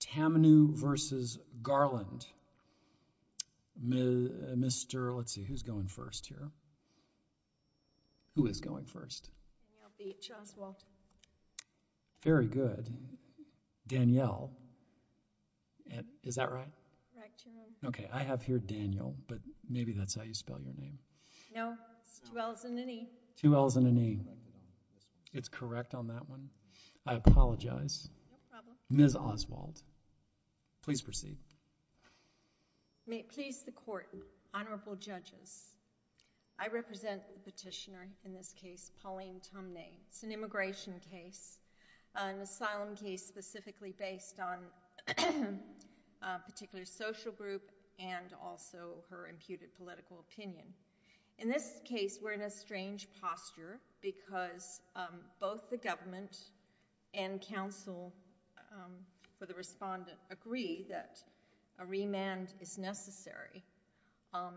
Tamnu v. Garland. Mr. let's see who's going first here. Who is going first? Very good. Danielle. Is that right? Okay, I have here Daniel, but maybe that's how you spell your name. No, it's two L's and an E. Two L's and an E. It's correct on that one. I apologize. No problem. Ms. Oswald, please proceed. May it please the court, honorable judges, I represent the petitioner in this case, Pauline Tumney. It's an immigration case, an asylum case specifically based on a particular social group and also her imputed and counsel for the respondent agree that a remand is necessary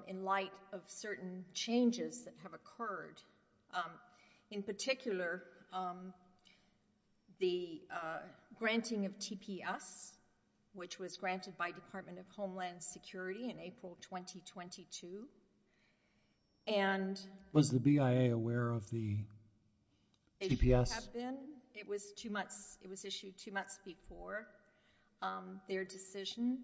in light of certain changes that have occurred. In particular, the granting of TPS, which was granted by Department of Homeland Security in April 2022. And was the BIA aware of the TPS? It was issued two months before their decision.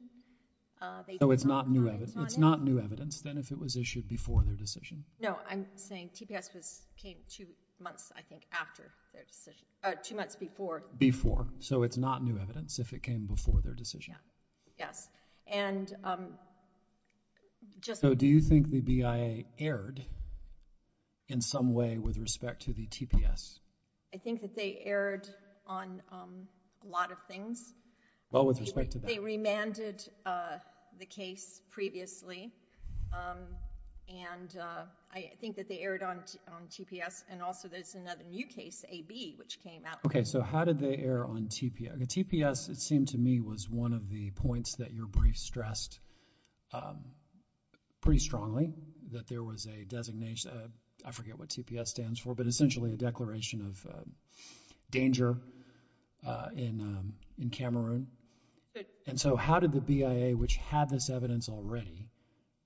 So it's not new evidence? It's not new evidence then if it was issued before their decision? No, I'm saying TPS came two months, I think, after their decision. Two months before. Before. So it's not new evidence if it came before their decision? Yes. So do you think the BIA erred in some way with respect to the TPS? I think that they erred on a lot of things. Well, with respect to that. They remanded the case previously and I think that they erred on TPS and also there's another new case, AB, which came out later. Okay, so how did they err on TPS? TPS, it seemed to me, was one of the points that your brief stressed pretty strongly, that there was a designation, I forget what TPS stands for, but essentially a declaration of danger in Cameroon. And so how did the BIA, which had this evidence already,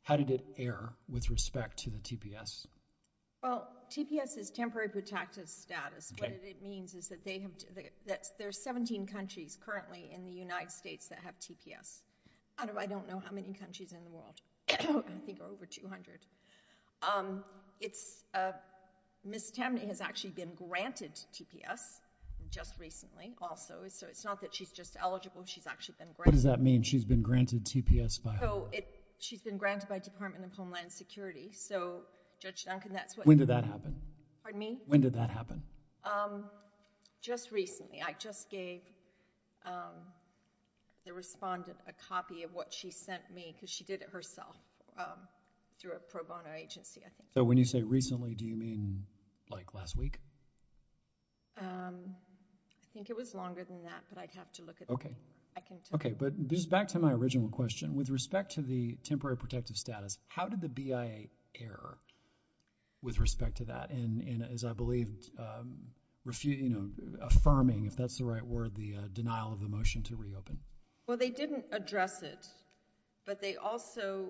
how did it err with respect to the TPS? Well, TPS is temporary protective status. What it means is that there are 17 countries currently in the United States that have TPS out of I don't know how many countries in the world. I think there are over 200. It's, Ms. Tamney has actually been granted TPS just recently also so it's not that she's just eligible, she's actually been granted. What does that mean, she's been granted TPS by who? She's been granted by Department of Homeland Security so Judge Duncan, that's what. When did that happen? Pardon me? When did that happen? Just recently. I just gave the respondent a copy of what she sent me because she did it herself through a pro bono agency, I think. So when you say recently, do you mean like last week? I think it was longer than that, but I'd have to look at it. Okay, but this is back to my original question. With respect to the temporary protective status, how did the BIA err with what I believe is affirming, if that's the right word, the denial of the motion to reopen? Well, they didn't address it, but they also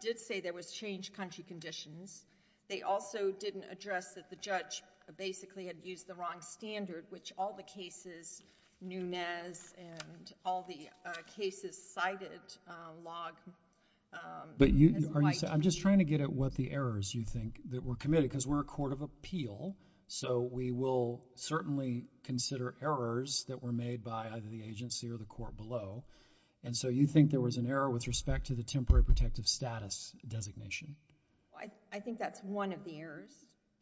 did say there was changed country conditions. They also didn't address that the judge basically had used the wrong standard, which all the cases, Nunez and all the cases cited, log. I'm just trying to get at what the errors you think that were committed, because we're a court of appeal, so we will certainly consider errors that were made by either the agency or the court below. And so you think there was an error with respect to the temporary protective status designation? I think that's one of the errors.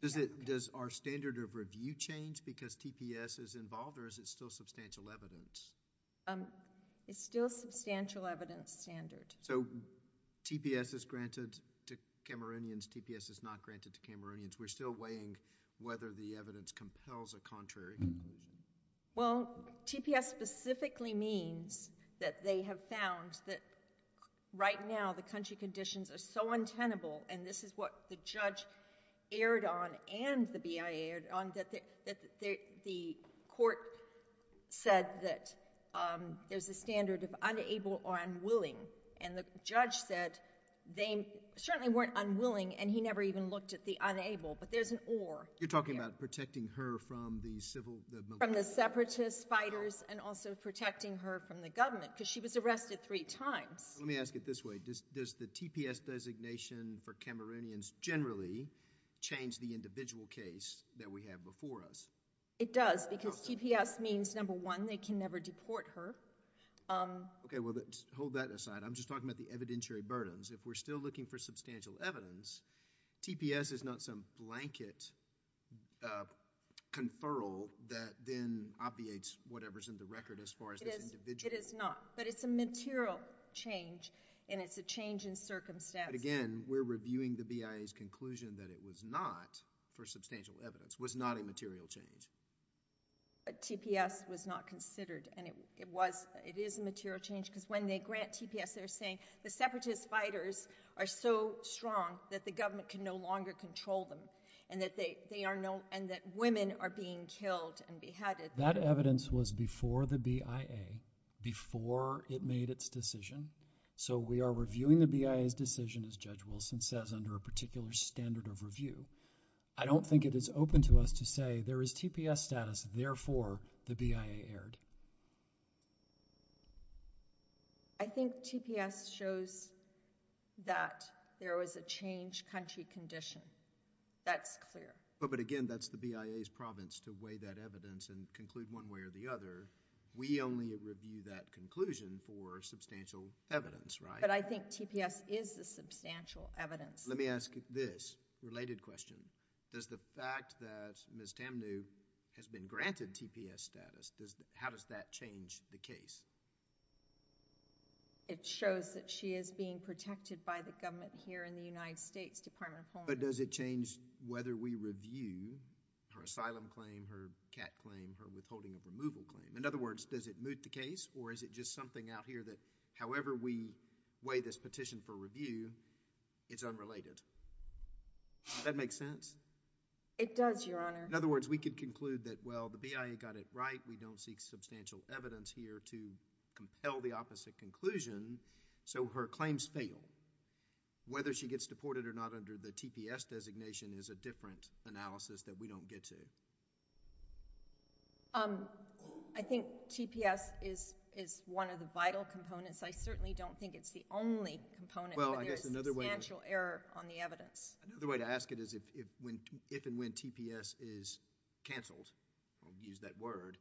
Does our standard of review change because TPS is involved, or is it still substantial evidence? It's still substantial evidence standard. So TPS is granted to Cameroonians, TPS is not granted to Cameroonians. We're still weighing whether the evidence compels a contrary conclusion. Well, TPS specifically means that they have found that right now the country conditions are so untenable, and this is what the judge erred on and the BIA erred on, that the court said that there's a standard of unable or unwilling, and the judge said they certainly weren't unwilling, and he never even looked at the unable, but there's an or in there. You're talking about protecting her from the civil— From the separatist fighters and also protecting her from the government, because she was arrested three times. Let me ask it this way. Does the TPS designation for Cameroonians generally change the individual case that we have before us? It does, because TPS means, number one, they can never deport her. Okay, well, hold that aside. I'm just talking about the evidentiary burdens. If we're still looking for substantial evidence, TPS is not some blanket conferral that then obviates whatever's in the record as far as this individual— It is not, but it's a material change, and it's a change in circumstance. But again, we're reviewing the BIA's conclusion that it was not, for substantial evidence, was not a material change. TPS was not considered, and it is a material change, because when they grant TPS, they're saying the separatist fighters are so strong that the government can no longer control them and that women are being killed and beheaded. That evidence was before the BIA, before it made its decision, so we are reviewing the BIA's decision, as Judge Wilson says, under a particular standard of review. I don't think it is open to us to say there is TPS status, therefore the BIA erred. I think TPS shows that there was a change country condition. That's clear. But again, that's the BIA's province to weigh that evidence and conclude one way or the other. We only review that conclusion for substantial evidence, right? But I think TPS is the substantial evidence. Let me ask this related question. Does the fact that Ms. Tamnew has been granted TPS status, how does that change the case? It shows that she is being protected by the government here in the United States, Department of Homeland Security. But does it change whether we review her asylum claim, her CAT claim, her withholding of removal claim? In other words, does it moot the case, or is it just something out here that however we weigh this petition for review, it's unrelated? Does that make sense? It does, Your Honor. In other words, we can conclude that, well, the BIA got it right. We don't seek substantial evidence here to compel the opposite conclusion, so her claims fail. Whether she gets deported or not under the TPS designation is a different analysis that we don't get to. I think TPS is one of the vital components. I certainly don't think it's the only component where there is substantial error on the evidence. Another way to ask it is if and when TPS is canceled, we'll use that word,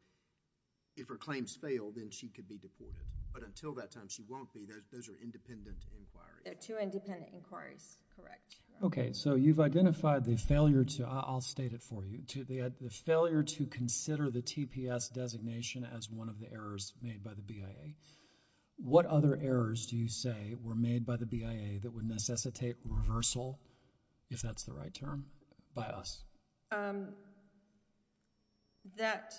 if her claims fail, then she could be deported. But until that time, she won't be. Those are independent inquiries. They're two independent inquiries. Correct. Okay. So you've identified the failure to, I'll state it for you, the failure to consider the TPS designation as one of the errors made by the BIA. What other errors do you say were made by the BIA that would necessitate reversal, if that's the right term, by us? That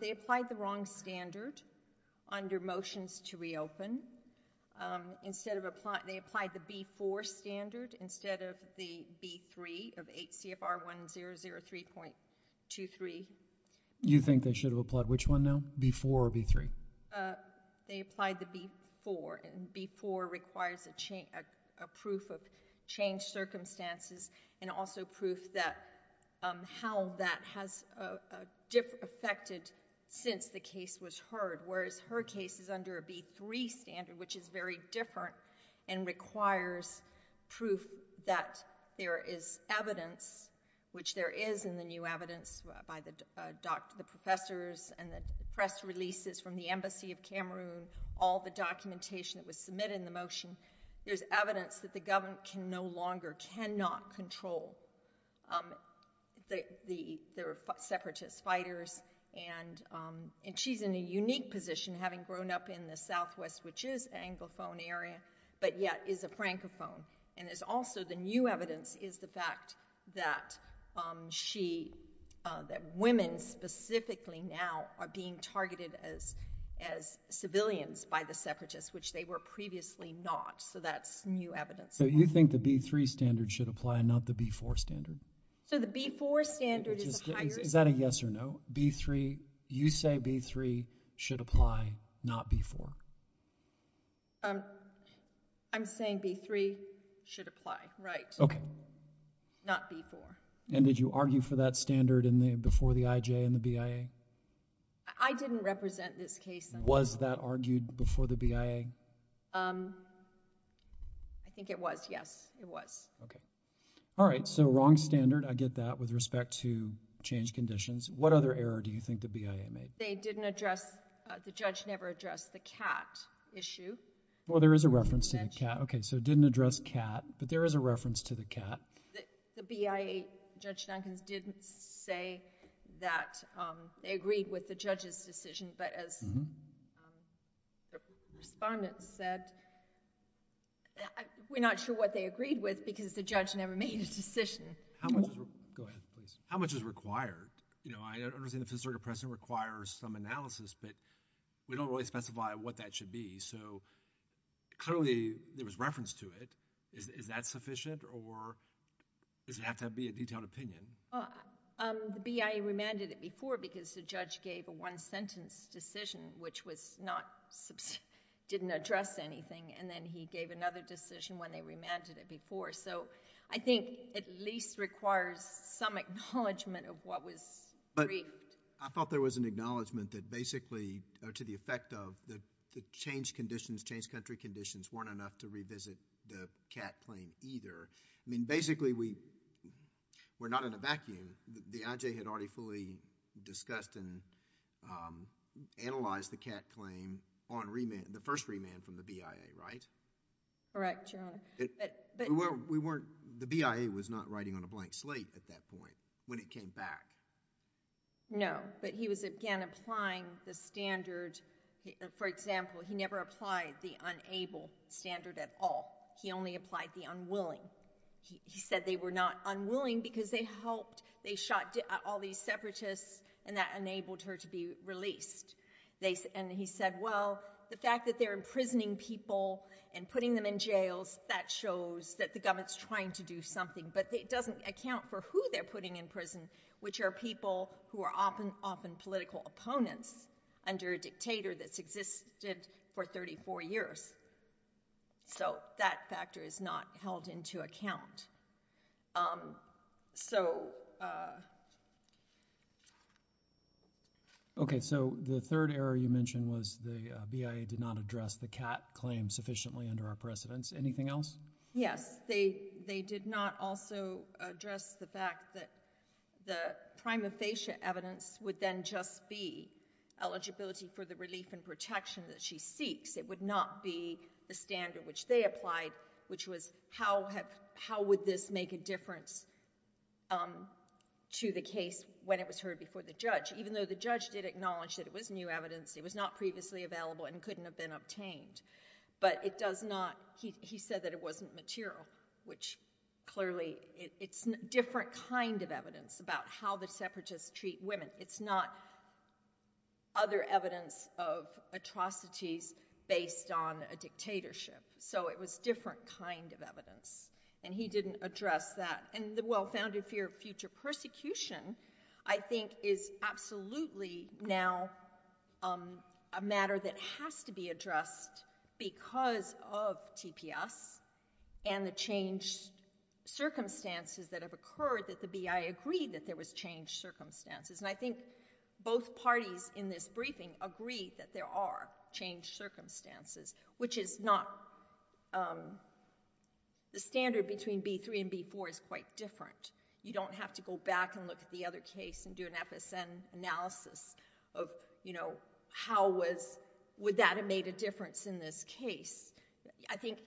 they applied the wrong standard under motions to reopen. They applied the B4 standard instead of the B3 of 8 CFR 1003.23. You think they should have applied which one now, B4 or B3? They applied the B4, and B4 requires a proof of changed circumstances and also proof that how that has affected since the case was heard, whereas her case is under a B3 standard, which is very different and requires proof that there is evidence, which there is in the new professors and the press releases from the Embassy of Cameroon, all the documentation that was submitted in the motion. There's evidence that the government can no longer, cannot control the separatist fighters, and she's in a unique position, having grown up in the southwest, which is Anglophone area, but yet is a Francophone. And there's also the new evidence is the fact that she, that women specifically now are being targeted as civilians by the separatists, which they were previously not. So that's new evidence. So you think the B3 standard should apply and not the B4 standard? So the B4 standard is a higher standard. Is that a yes or no? B3, you say B3 should apply, not B4? I'm saying B3 should apply, right? Okay. Not B4. And did you argue for that standard before the IJ and the BIA? I didn't represent this case. Was that argued before the BIA? I think it was, yes. It was. Okay. All right. So wrong standard. I get that with respect to change conditions. What other error do you think the BIA made? They didn't address, the judge never addressed the cat issue. Well, there is a reference to the cat. Okay. So it didn't address cat. But there is a reference to the cat. The BIA, Judge Duncans, didn't say that they agreed with the judge's decision. But as the respondents said, we're not sure what they agreed with because the judge never made a decision. Go ahead, please. How much is required? You know, I understand the Fifth Circuit precedent requires some analysis, but we don't really specify what that should be. So clearly there was reference to it. Is that sufficient or does it have to be a detailed opinion? The BIA remanded it before because the judge gave a one-sentence decision, which didn't address anything, and then he gave another decision when they remanded it before. So I think it at least requires some acknowledgment of what was briefed. I thought there was an acknowledgment that basically to the effect of the changed conditions, changed country conditions, weren't enough to revisit the cat claim either. I mean, basically we're not in a vacuum. The IJ had already fully discussed and analyzed the cat claim on remand, Correct, Your Honor. The BIA was not writing on a blank slate at that point when it came back. No, but he was, again, applying the standard. For example, he never applied the unable standard at all. He only applied the unwilling. He said they were not unwilling because they helped. They shot all these separatists and that enabled her to be released. And he said, well, the fact that they're imprisoning people and putting them in jails, that shows that the government's trying to do something, but it doesn't account for who they're putting in prison, which are people who are often political opponents under a dictator that's existed for 34 years. So that factor is not held into account. Okay, so the third error you mentioned was the BIA did not address the cat claim sufficiently under our precedents. Anything else? Yes. They did not also address the fact that the prima facie evidence would then just be eligibility for the relief and protection that she seeks. It would not be the standard which they applied, which was how would this make a difference to the case when it was heard before the judge, even though the judge did acknowledge that it was new evidence, it was not previously available and couldn't have been obtained. But it does not, he said that it wasn't material, which clearly it's different kind of evidence about how the separatists treat women. It's not other evidence of atrocities based on a dictatorship. So it was different kind of evidence. And he didn't address that. And the well-founded fear of future persecution, I think, is absolutely now a matter that has to be addressed because of TPS and the changed circumstances that have occurred that the BIA agreed that there was changed circumstances. And I think both parties in this briefing agree that there are changed circumstances, which is not the standard between B-3 and B-4 is quite different. You don't have to go back and look at the other case and do an FSN analysis of how would that have made a difference in this case. I think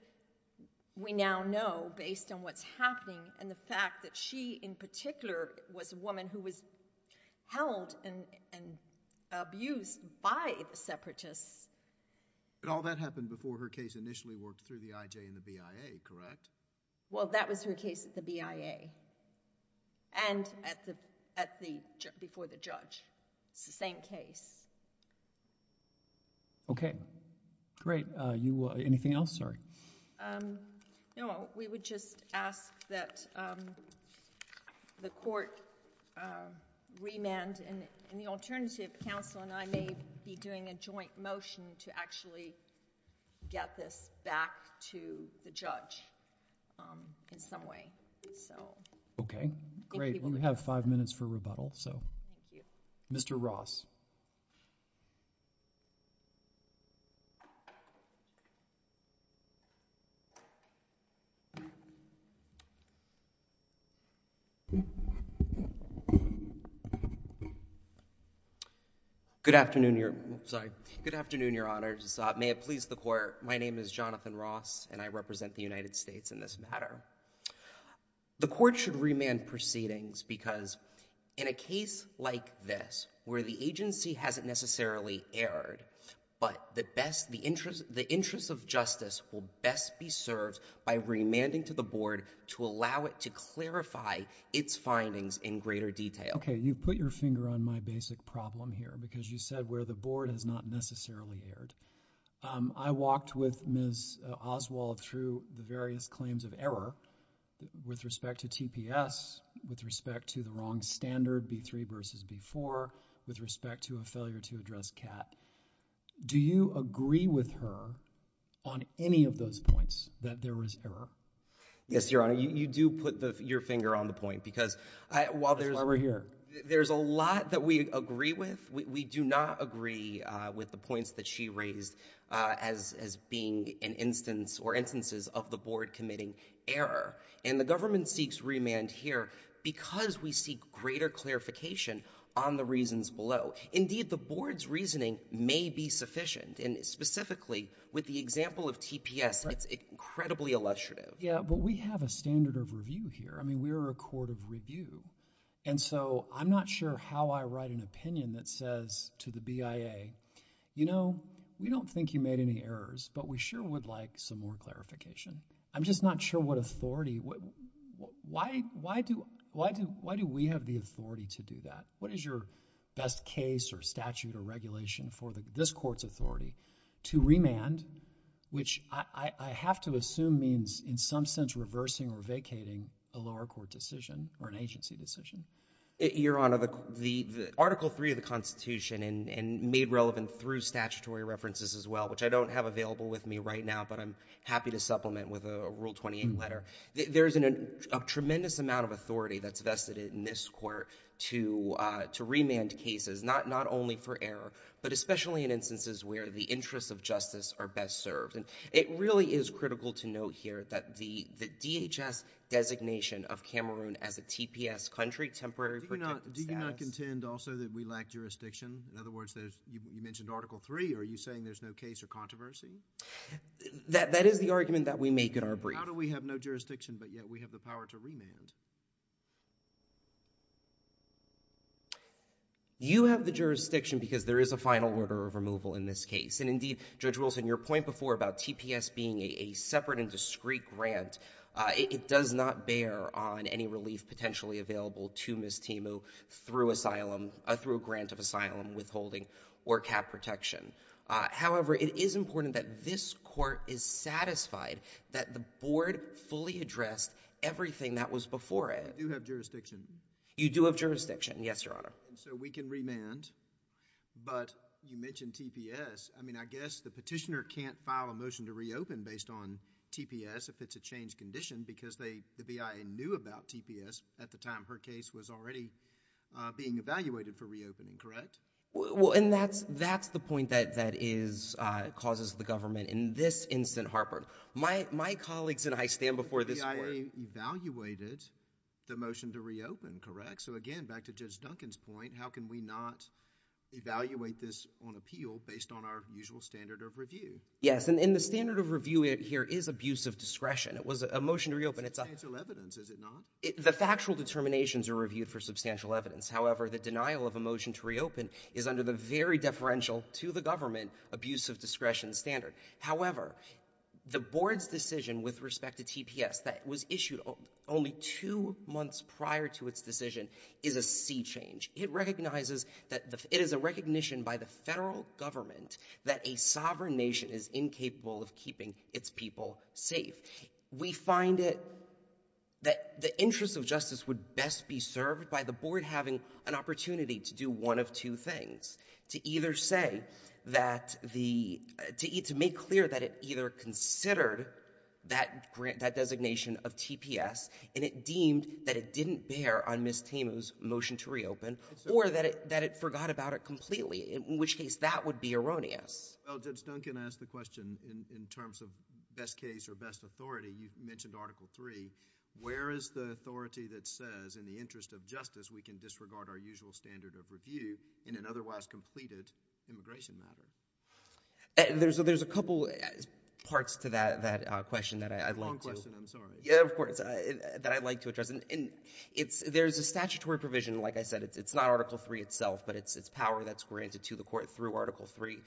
we now know based on what's happening and the fact that she in particular was a woman who was held and abused by the separatists. But all that happened before her case initially worked through the IJ and the BIA, correct? Well, that was her case at the BIA and before the judge. It's the same case. Okay, great. Anything else? Sorry. No, we would just ask that the court remand and the alternative counsel and I may be doing a joint motion to actually get this back to the judge in some way. Okay, great. We'll have five minutes for rebuttal. Mr. Ross. Good afternoon, Your Honor. May it please the court, my name is Jonathan Ross and I represent the United States in this matter. The court should remand proceedings because in a case like this where the agency hasn't necessarily erred, but the interest of justice will best be served by remanding to the board to allow it to clarify its findings in greater detail. Okay, you put your finger on my basic problem here because you said where the board has not necessarily erred. I walked with Ms. Oswald through the various claims of error with respect to TPS, with respect to the wrong standard, B3 versus B4, with respect to a failure to address CAT. Do you agree with her on any of those points that there was error? Yes, Your Honor, you do put your finger on the point because while there's… There's a lot that we agree with. We do not agree with the points that she raised as being an instance or instances of the board committing error, and the government seeks remand here because we seek greater clarification on the reasons below. Indeed, the board's reasoning may be sufficient, and specifically with the example of TPS, it's incredibly illustrative. Yeah, but we have a standard of review here. I mean, we are a court of review, and so I'm not sure how I write an opinion that says to the BIA, you know, we don't think you made any errors, but we sure would like some more clarification. I'm just not sure what authority… Why do we have the authority to do that? What is your best case or statute or regulation for this court's authority to remand, which I have to assume means in some sense reversing or vacating a lower court decision or an agency decision? Your Honor, the Article III of the Constitution and made relevant through statutory references as well, which I don't have available with me right now, but I'm happy to supplement with a Rule 28 letter, there is a tremendous amount of authority that's vested in this court to remand cases, not only for error, but especially in instances where the interests of justice are best served. And it really is critical to note here that the DHS designation of Cameroon as a TPS country, Temporary Protective Status… Do you not contend also that we lack jurisdiction? In other words, you mentioned Article III. Are you saying there's no case or controversy? That is the argument that we make in our brief. Do you have the jurisdiction because there is a final order of removal in this case? And indeed, Judge Wilson, your point before about TPS being a separate and discreet grant, it does not bear on any relief potentially available to Ms. Temu through a grant of asylum, withholding, or cap protection. However, it is important that this court is satisfied that the board fully addressed everything that was before it I do have jurisdiction. You do have jurisdiction. Yes, Your Honor. And so we can remand, but you mentioned TPS. I mean, I guess the petitioner can't file a motion to reopen based on TPS if it's a changed condition because the BIA knew about TPS at the time her case was already being evaluated for reopening, correct? Well, and that's the point that causes the government in this instant, Harper. My colleagues and I stand before this court… the motion to reopen, correct? So again, back to Judge Duncan's point, how can we not evaluate this on appeal based on our usual standard of review? Yes, and the standard of review here is abuse of discretion. It was a motion to reopen. Substantial evidence, is it not? The factual determinations are reviewed for substantial evidence. However, the denial of a motion to reopen is under the very deferential to the government abuse of discretion standard. However, the board's decision with respect to TPS that was issued only two months prior to its decision is a sea change. It recognizes that it is a recognition by the federal government that a sovereign nation is incapable of keeping its people safe. We find it that the interest of justice would best be served by the board having an opportunity to do one of two things, to either say that the—to make clear that it either considered that designation of TPS and it deemed that it didn't bear on Ms. Tamu's motion to reopen or that it forgot about it completely, in which case that would be erroneous. Well, Judge Duncan asked the question in terms of best case or best authority. You mentioned Article III. There's a couple parts to that question that I'd like to— It's a long question. I'm sorry. Yeah, of course, that I'd like to address. And there's a statutory provision. Like I said, it's not Article III itself, but it's power that's granted to the court through Article III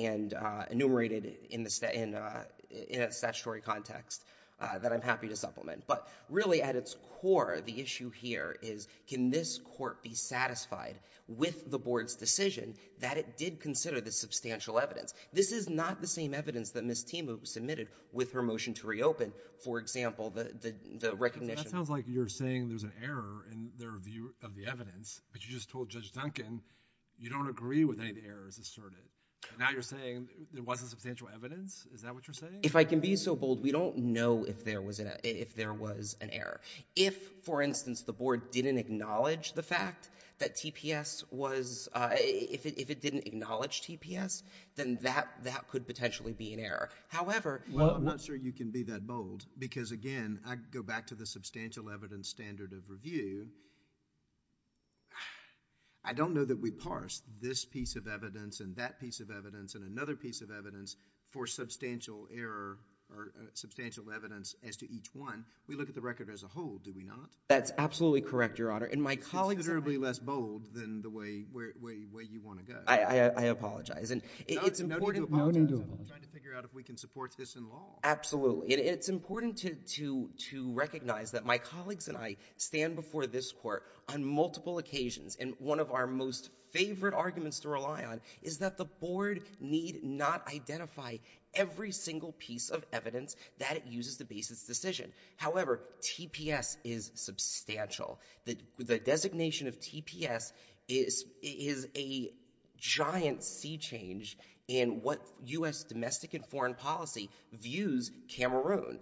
and enumerated in a statutory context that I'm happy to supplement. But really, at its core, the issue here is can the board can this court be satisfied with the board's decision that it did consider the substantial evidence? This is not the same evidence that Ms. Tamu submitted with her motion to reopen. For example, the recognition— That sounds like you're saying there's an error in their view of the evidence, but you just told Judge Duncan you don't agree with any of the errors asserted. Now you're saying there wasn't substantial evidence? Is that what you're saying? If I can be so bold, we don't know if there was an error. If, for instance, the board didn't acknowledge the fact that TPS was— if it didn't acknowledge TPS, then that could potentially be an error. However— Well, I'm not sure you can be that bold because, again, I go back to the substantial evidence standard of review. I don't know that we parse this piece of evidence and that piece of evidence and another piece of evidence for substantial error or substantial evidence as to each one. We look at the record as a whole, do we not? That's absolutely correct, Your Honor. You're considerably less bold than the way you want to go. I apologize. No need to apologize. I'm trying to figure out if we can support this in law. Absolutely. It's important to recognize that my colleagues and I stand before this court on multiple occasions, and one of our most favorite arguments to rely on is that the board need not identify every single piece of evidence that it uses to base its decision. However, TPS is substantial. The designation of TPS is a giant sea change in what U.S. domestic and foreign policy views Cameroon,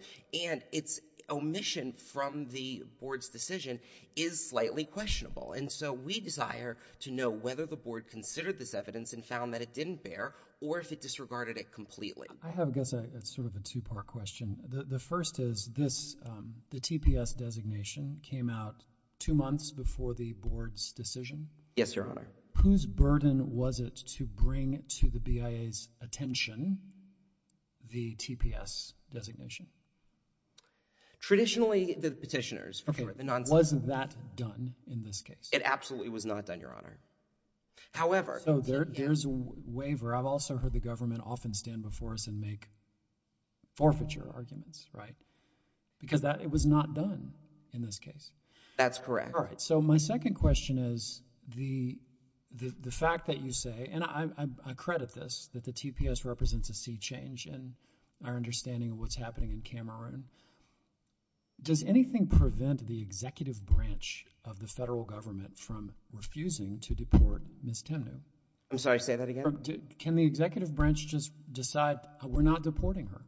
and its omission from the board's decision is slightly questionable. And so we desire to know whether the board considered this evidence and found that it didn't bear or if it disregarded it completely. I have, I guess, sort of a two-part question. The first is this, the TPS designation came out two months before the board's decision? Yes, Your Honor. Whose burden was it to bring to the BIA's attention the TPS designation? Traditionally, the petitioners. Okay. Was that done in this case? It absolutely was not done, Your Honor. So there's a waiver. I've also heard the government often stand before us and make forfeiture arguments, right? Because it was not done in this case. That's correct. All right. So my second question is the fact that you say, and I credit this, that the TPS represents a sea change in our understanding of what's happening in Cameroon. Does anything prevent the executive branch of the federal government from refusing to deport Ms. Temnue? I'm sorry, say that again? Can the executive branch just decide, we're not deporting her?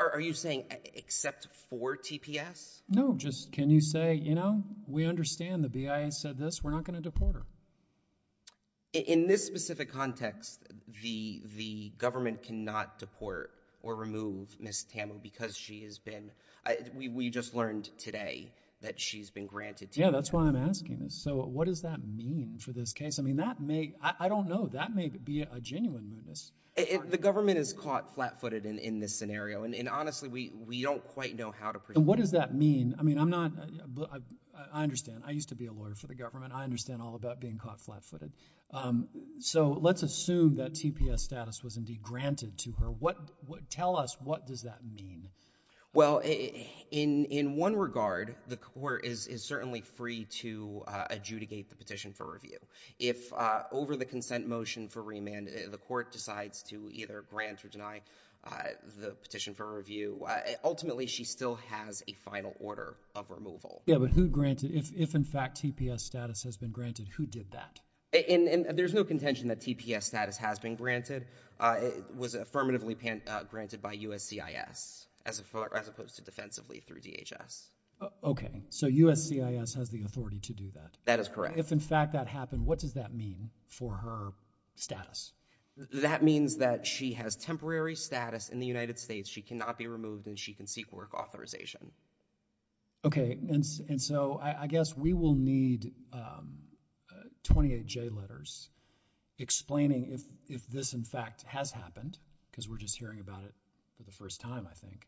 Are you saying except for TPS? No, just can you say, you know, we understand the BIA said this. We're not going to deport her. In this specific context, the government cannot deport or remove Ms. Temnue because she has been, we just learned today that she's been granted TPS. Yeah, that's why I'm asking this. So what does that mean for this case? I mean, that may, I don't know. That may be a genuine mootness. The government is caught flat-footed in this scenario, and honestly, we don't quite know how to present that. What does that mean? I mean, I'm not, I understand. I used to be a lawyer for the government. I understand all about being caught flat-footed. So let's assume that TPS status was indeed granted to her. Tell us, what does that mean? Well, in one regard, the court is certainly free to adjudicate the petition for review. If over the consent motion for remand, the court decides to either grant or deny the petition for review, ultimately she still has a final order of removal. Yeah, but who granted? If, in fact, TPS status has been granted, who did that? And there's no contention that TPS status has been granted. It was affirmatively granted by USCIS as opposed to defensively through DHS. Okay. So USCIS has the authority to do that? That is correct. If, in fact, that happened, what does that mean for her status? That means that she has temporary status in the United States. She cannot be removed, and she can seek work authorization. Okay. And so I guess we will need 28 J letters explaining if this, in fact, has happened, because we're just hearing about it for the first time, I think,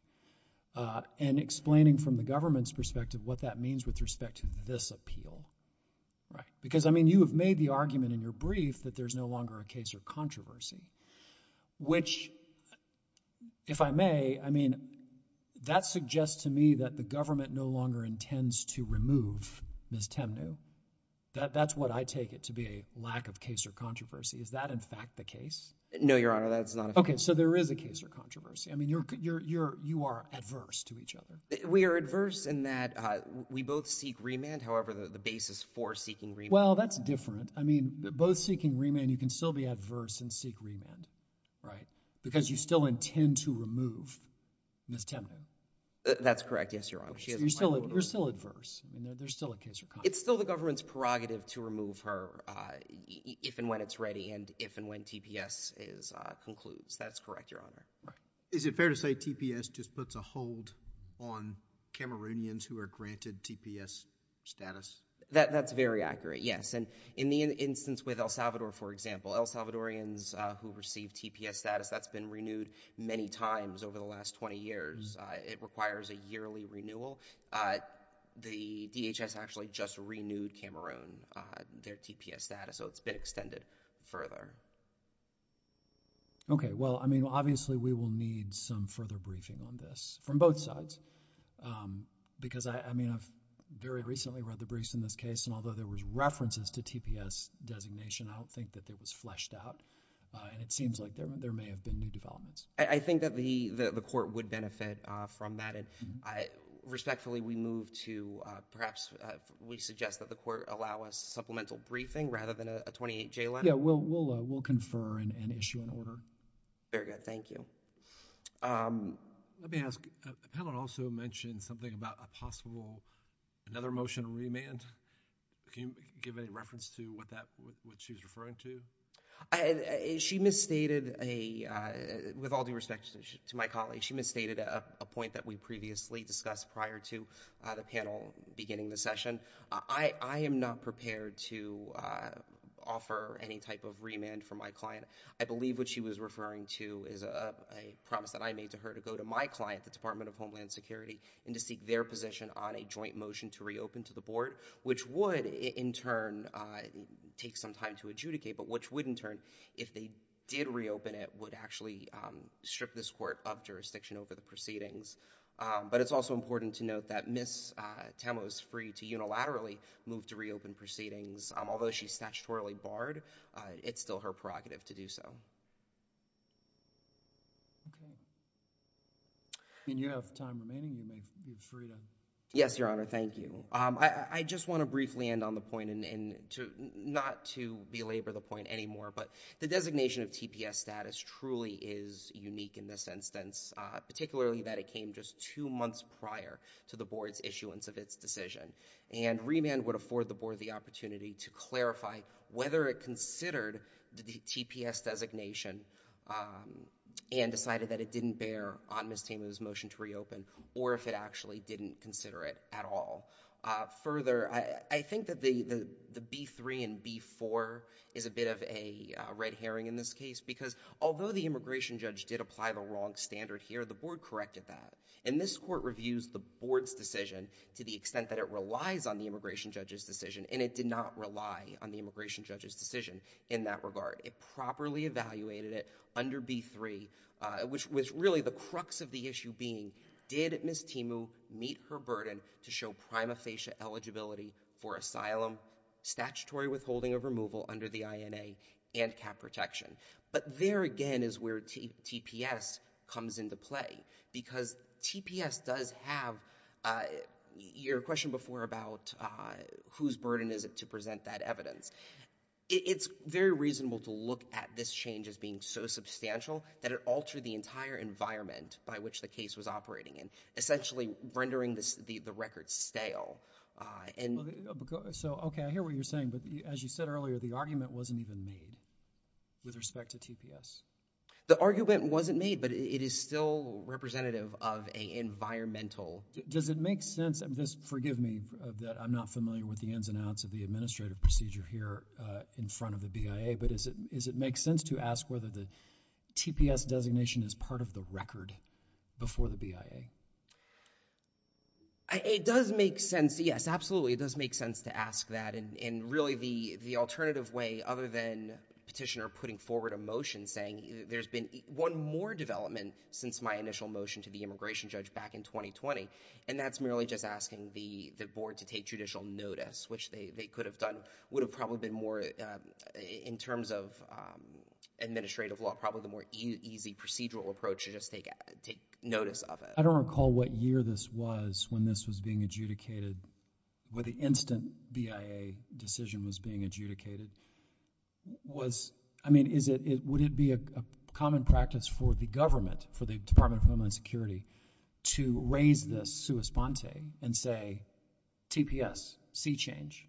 and explaining from the government's perspective what that means with respect to this appeal. Right. Because, I mean, you have made the argument in your brief that there's no longer a case or controversy, which, if I may, I mean, that suggests to me that the government no longer intends to remove Ms. Temnue. That's what I take it to be, a lack of case or controversy. Is that, in fact, the case? No, Your Honor, that's not a case. Okay. So there is a case or controversy. I mean, you are adverse to each other. We are adverse in that we both seek remand. However, the basis for seeking remand— Well, that's different. I mean, both seeking remand, you can still be adverse and seek remand, right, because you still intend to remove Ms. Temnue. That's correct. Yes, Your Honor. You're still adverse. There's still a case or controversy. It's still the government's prerogative to remove her if and when it's ready and if and when TPS concludes. That's correct, Your Honor. Is it fair to say TPS just puts a hold on Cameroonians who are granted TPS status? That's very accurate, yes. In the instance with El Salvador, for example, El Salvadorians who receive TPS status, that's been renewed many times over the last 20 years. It requires a yearly renewal. The DHS actually just renewed Cameroon their TPS status, so it's been extended further. Okay. Well, I mean, obviously we will need some further briefing on this from both sides because, I mean, I've very recently read the briefs in this case, and although there was references to TPS designation, I don't think that it was fleshed out, and it seems like there may have been new developments. I think that the court would benefit from that. Respectfully, we move to perhaps we suggest that the court allow us supplemental briefing rather than a 28-J letter. Yes, we'll confer and issue an order. Very good. Thank you. Let me ask, the panel also mentioned something about a possible another motion to remand. Can you give any reference to what she was referring to? She misstated a, with all due respect to my colleague, she misstated a point that we previously discussed prior to the panel beginning the session. I am not prepared to offer any type of remand for my client. I believe what she was referring to is a promise that I made to her to go to my client, the Department of Homeland Security, and to seek their position on a joint motion to reopen to the board, which would, in turn, take some time to adjudicate, but which would, in turn, if they did reopen it, would actually strip this court of jurisdiction over the proceedings. But it's also important to note that Ms. Tamlo is free to unilaterally move to reopen proceedings. Although she's statutorily barred, it's still her prerogative to do so. Okay. And you have time remaining. You may be free to. Yes, Your Honor. Thank you. I just want to briefly end on the point and not to belabor the point anymore, but the designation of TPS status truly is unique in this instance, particularly that it came just two months prior to the board's issuance of its decision. And remand would afford the board the opportunity to clarify whether it considered the TPS designation and decided that it didn't bear on Ms. Tamlo's motion to reopen or if it actually didn't consider it at all. Further, I think that the B-3 and B-4 is a bit of a red herring in this case because although the immigration judge did apply the wrong standard here, the board corrected that. And this court reviews the board's decision to the extent that it relies on the immigration judge's decision, and it did not rely on the immigration judge's decision in that regard. It properly evaluated it under B-3, which was really the crux of the issue being, did Ms. Tamlo meet her burden to show prima facie eligibility for asylum, statutory withholding of removal under the INA, and cap protection? But there again is where TPS comes into play because TPS does have your question before about whose burden is it to present that evidence. It's very reasonable to look at this change as being so substantial that it altered the entire environment by which the case was operating in, essentially rendering the record stale. Okay, I hear what you're saying. But as you said earlier, the argument wasn't even made with respect to TPS. The argument wasn't made, but it is still representative of an environmental— Does it make sense—forgive me, I'm not familiar with the ins and outs of the administrative procedure here in front of the BIA, but does it make sense to ask whether the TPS designation is part of the record before the BIA? It does make sense. Yes, absolutely, it does make sense to ask that. And really the alternative way, other than Petitioner putting forward a motion saying, there's been one more development since my initial motion to the immigration judge back in 2020, and that's merely just asking the board to take judicial notice, which they could have done, would have probably been more, in terms of administrative law, probably the more easy procedural approach to just take notice of it. I don't recall what year this was when this was being adjudicated, when the instant BIA decision was being adjudicated. I mean, would it be a common practice for the government, for the Department of Homeland Security, to raise this sua sponte and say, TPS, see change?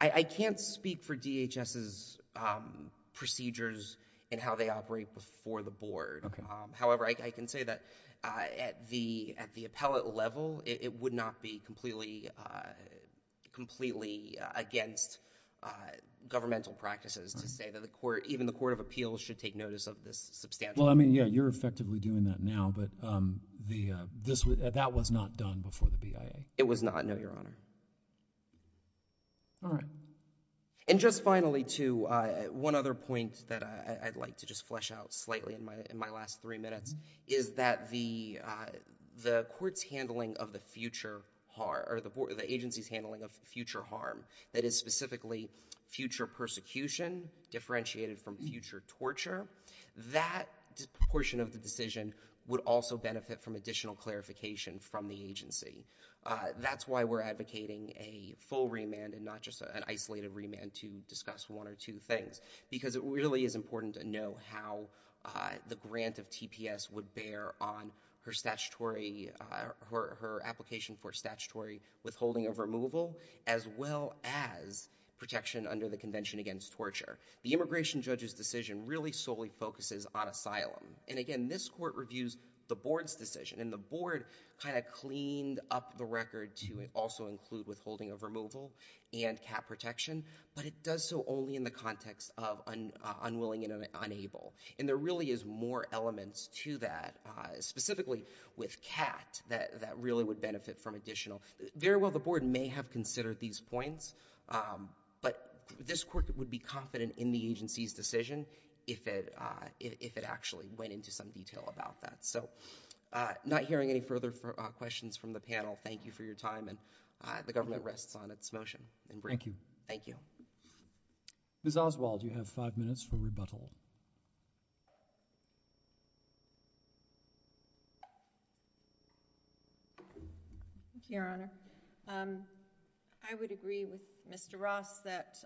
I can't speak for DHS's procedures and how they operate before the board. However, I can say that at the appellate level, it would not be completely against governmental practices to say that even the Court of Appeals should take notice of this substantial change. Well, I mean, yeah, you're effectively doing that now, but that was not done before the BIA. It was not, no, Your Honor. All right. And just finally, too, one other point that I'd like to just flesh out slightly in my last three minutes is that the court's handling of the future harm, or the agency's handling of future harm, that is specifically future persecution differentiated from future torture, that portion of the decision would also benefit from additional clarification from the agency. That's why we're advocating a full remand and not just an isolated remand to discuss one or two things, because it really is important to know how the grant of TPS would bear on her application for statutory withholding of removal, as well as protection under the Convention Against Torture. The immigration judge's decision really solely focuses on asylum. And again, this court reviews the board's decision, and the board kind of cleaned up the record to also include withholding of removal and CAT protection, but it does so only in the context of unwilling and unable. And there really is more elements to that, specifically with CAT, that really would benefit from additional. Very well, the board may have considered these points, but this court would be confident in the agency's decision if it actually went into some detail about that. So not hearing any further questions from the panel, thank you for your time, and the government rests on its motion. Thank you. Thank you. Ms. Oswald, you have five minutes for rebuttal. Thank you, Your Honor. I would agree with Mr. Ross that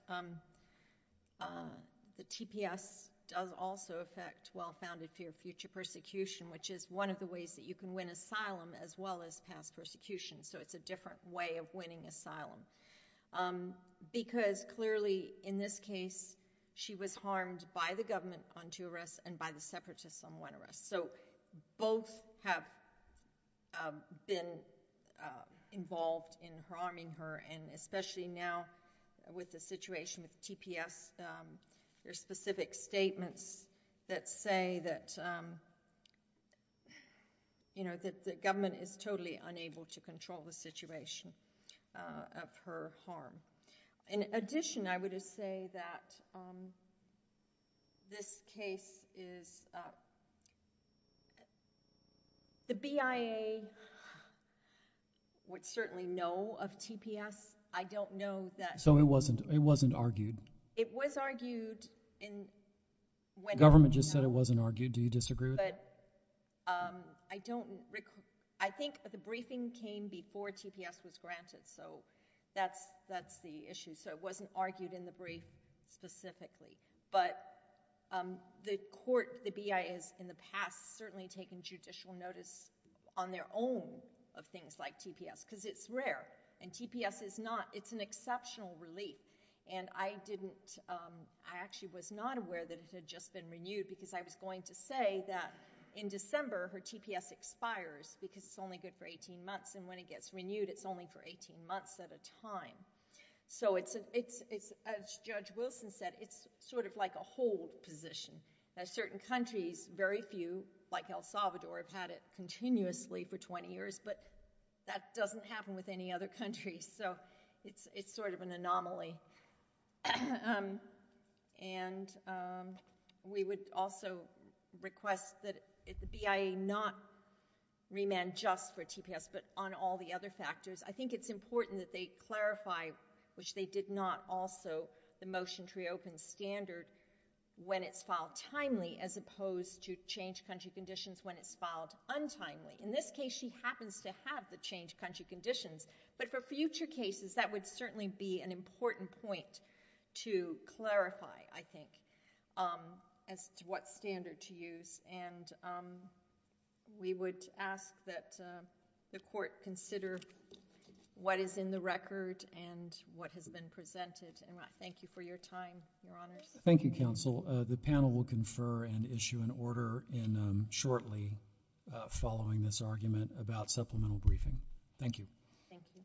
the TPS does also affect well-founded fear of future persecution, which is one of the ways that you can win asylum, as well as past persecution. So it's a different way of winning asylum. Because clearly, in this case, she was harmed by the government on two arrests and by the separatists on one arrest. So both have been involved in harming her, and especially now with the situation with TPS, there are specific statements that say that the government is totally unable to control the situation of her harm. In addition, I would just say that this case is—the BIA would certainly know of TPS. I don't know that— So it wasn't argued? It was argued in— The government just said it wasn't argued. Do you disagree with that? I don't—I think the briefing came before TPS was granted, so that's the issue. So it wasn't argued in the brief specifically. But the court, the BIA, has in the past certainly taken judicial notice on their own of things like TPS, because it's rare. And TPS is not—it's an exceptional relief. And I didn't—I actually was not aware that it had just been renewed, because I was going to say that in December, her TPS expires, because it's only good for 18 months, and when it gets renewed, it's only for 18 months at a time. So it's—as Judge Wilson said, it's sort of like a hold position. Certain countries, very few, like El Salvador, have had it continuously for 20 years, but that doesn't happen with any other country, so it's sort of an anomaly. And we would also request that the BIA not remand just for TPS, but on all the other factors. I think it's important that they clarify, which they did not also, the motion to reopen standard when it's filed timely, as opposed to changed country conditions when it's filed untimely. In this case, she happens to have the changed country conditions, but for future cases, that would certainly be an important point to clarify, I think, as to what standard to use. And we would ask that the Court consider what is in the record and what has been presented, and I thank you for your time, Your Honors. Thank you, Counsel. The panel will confer and issue an order shortly following this argument about supplemental briefing. Thank you. Thank you.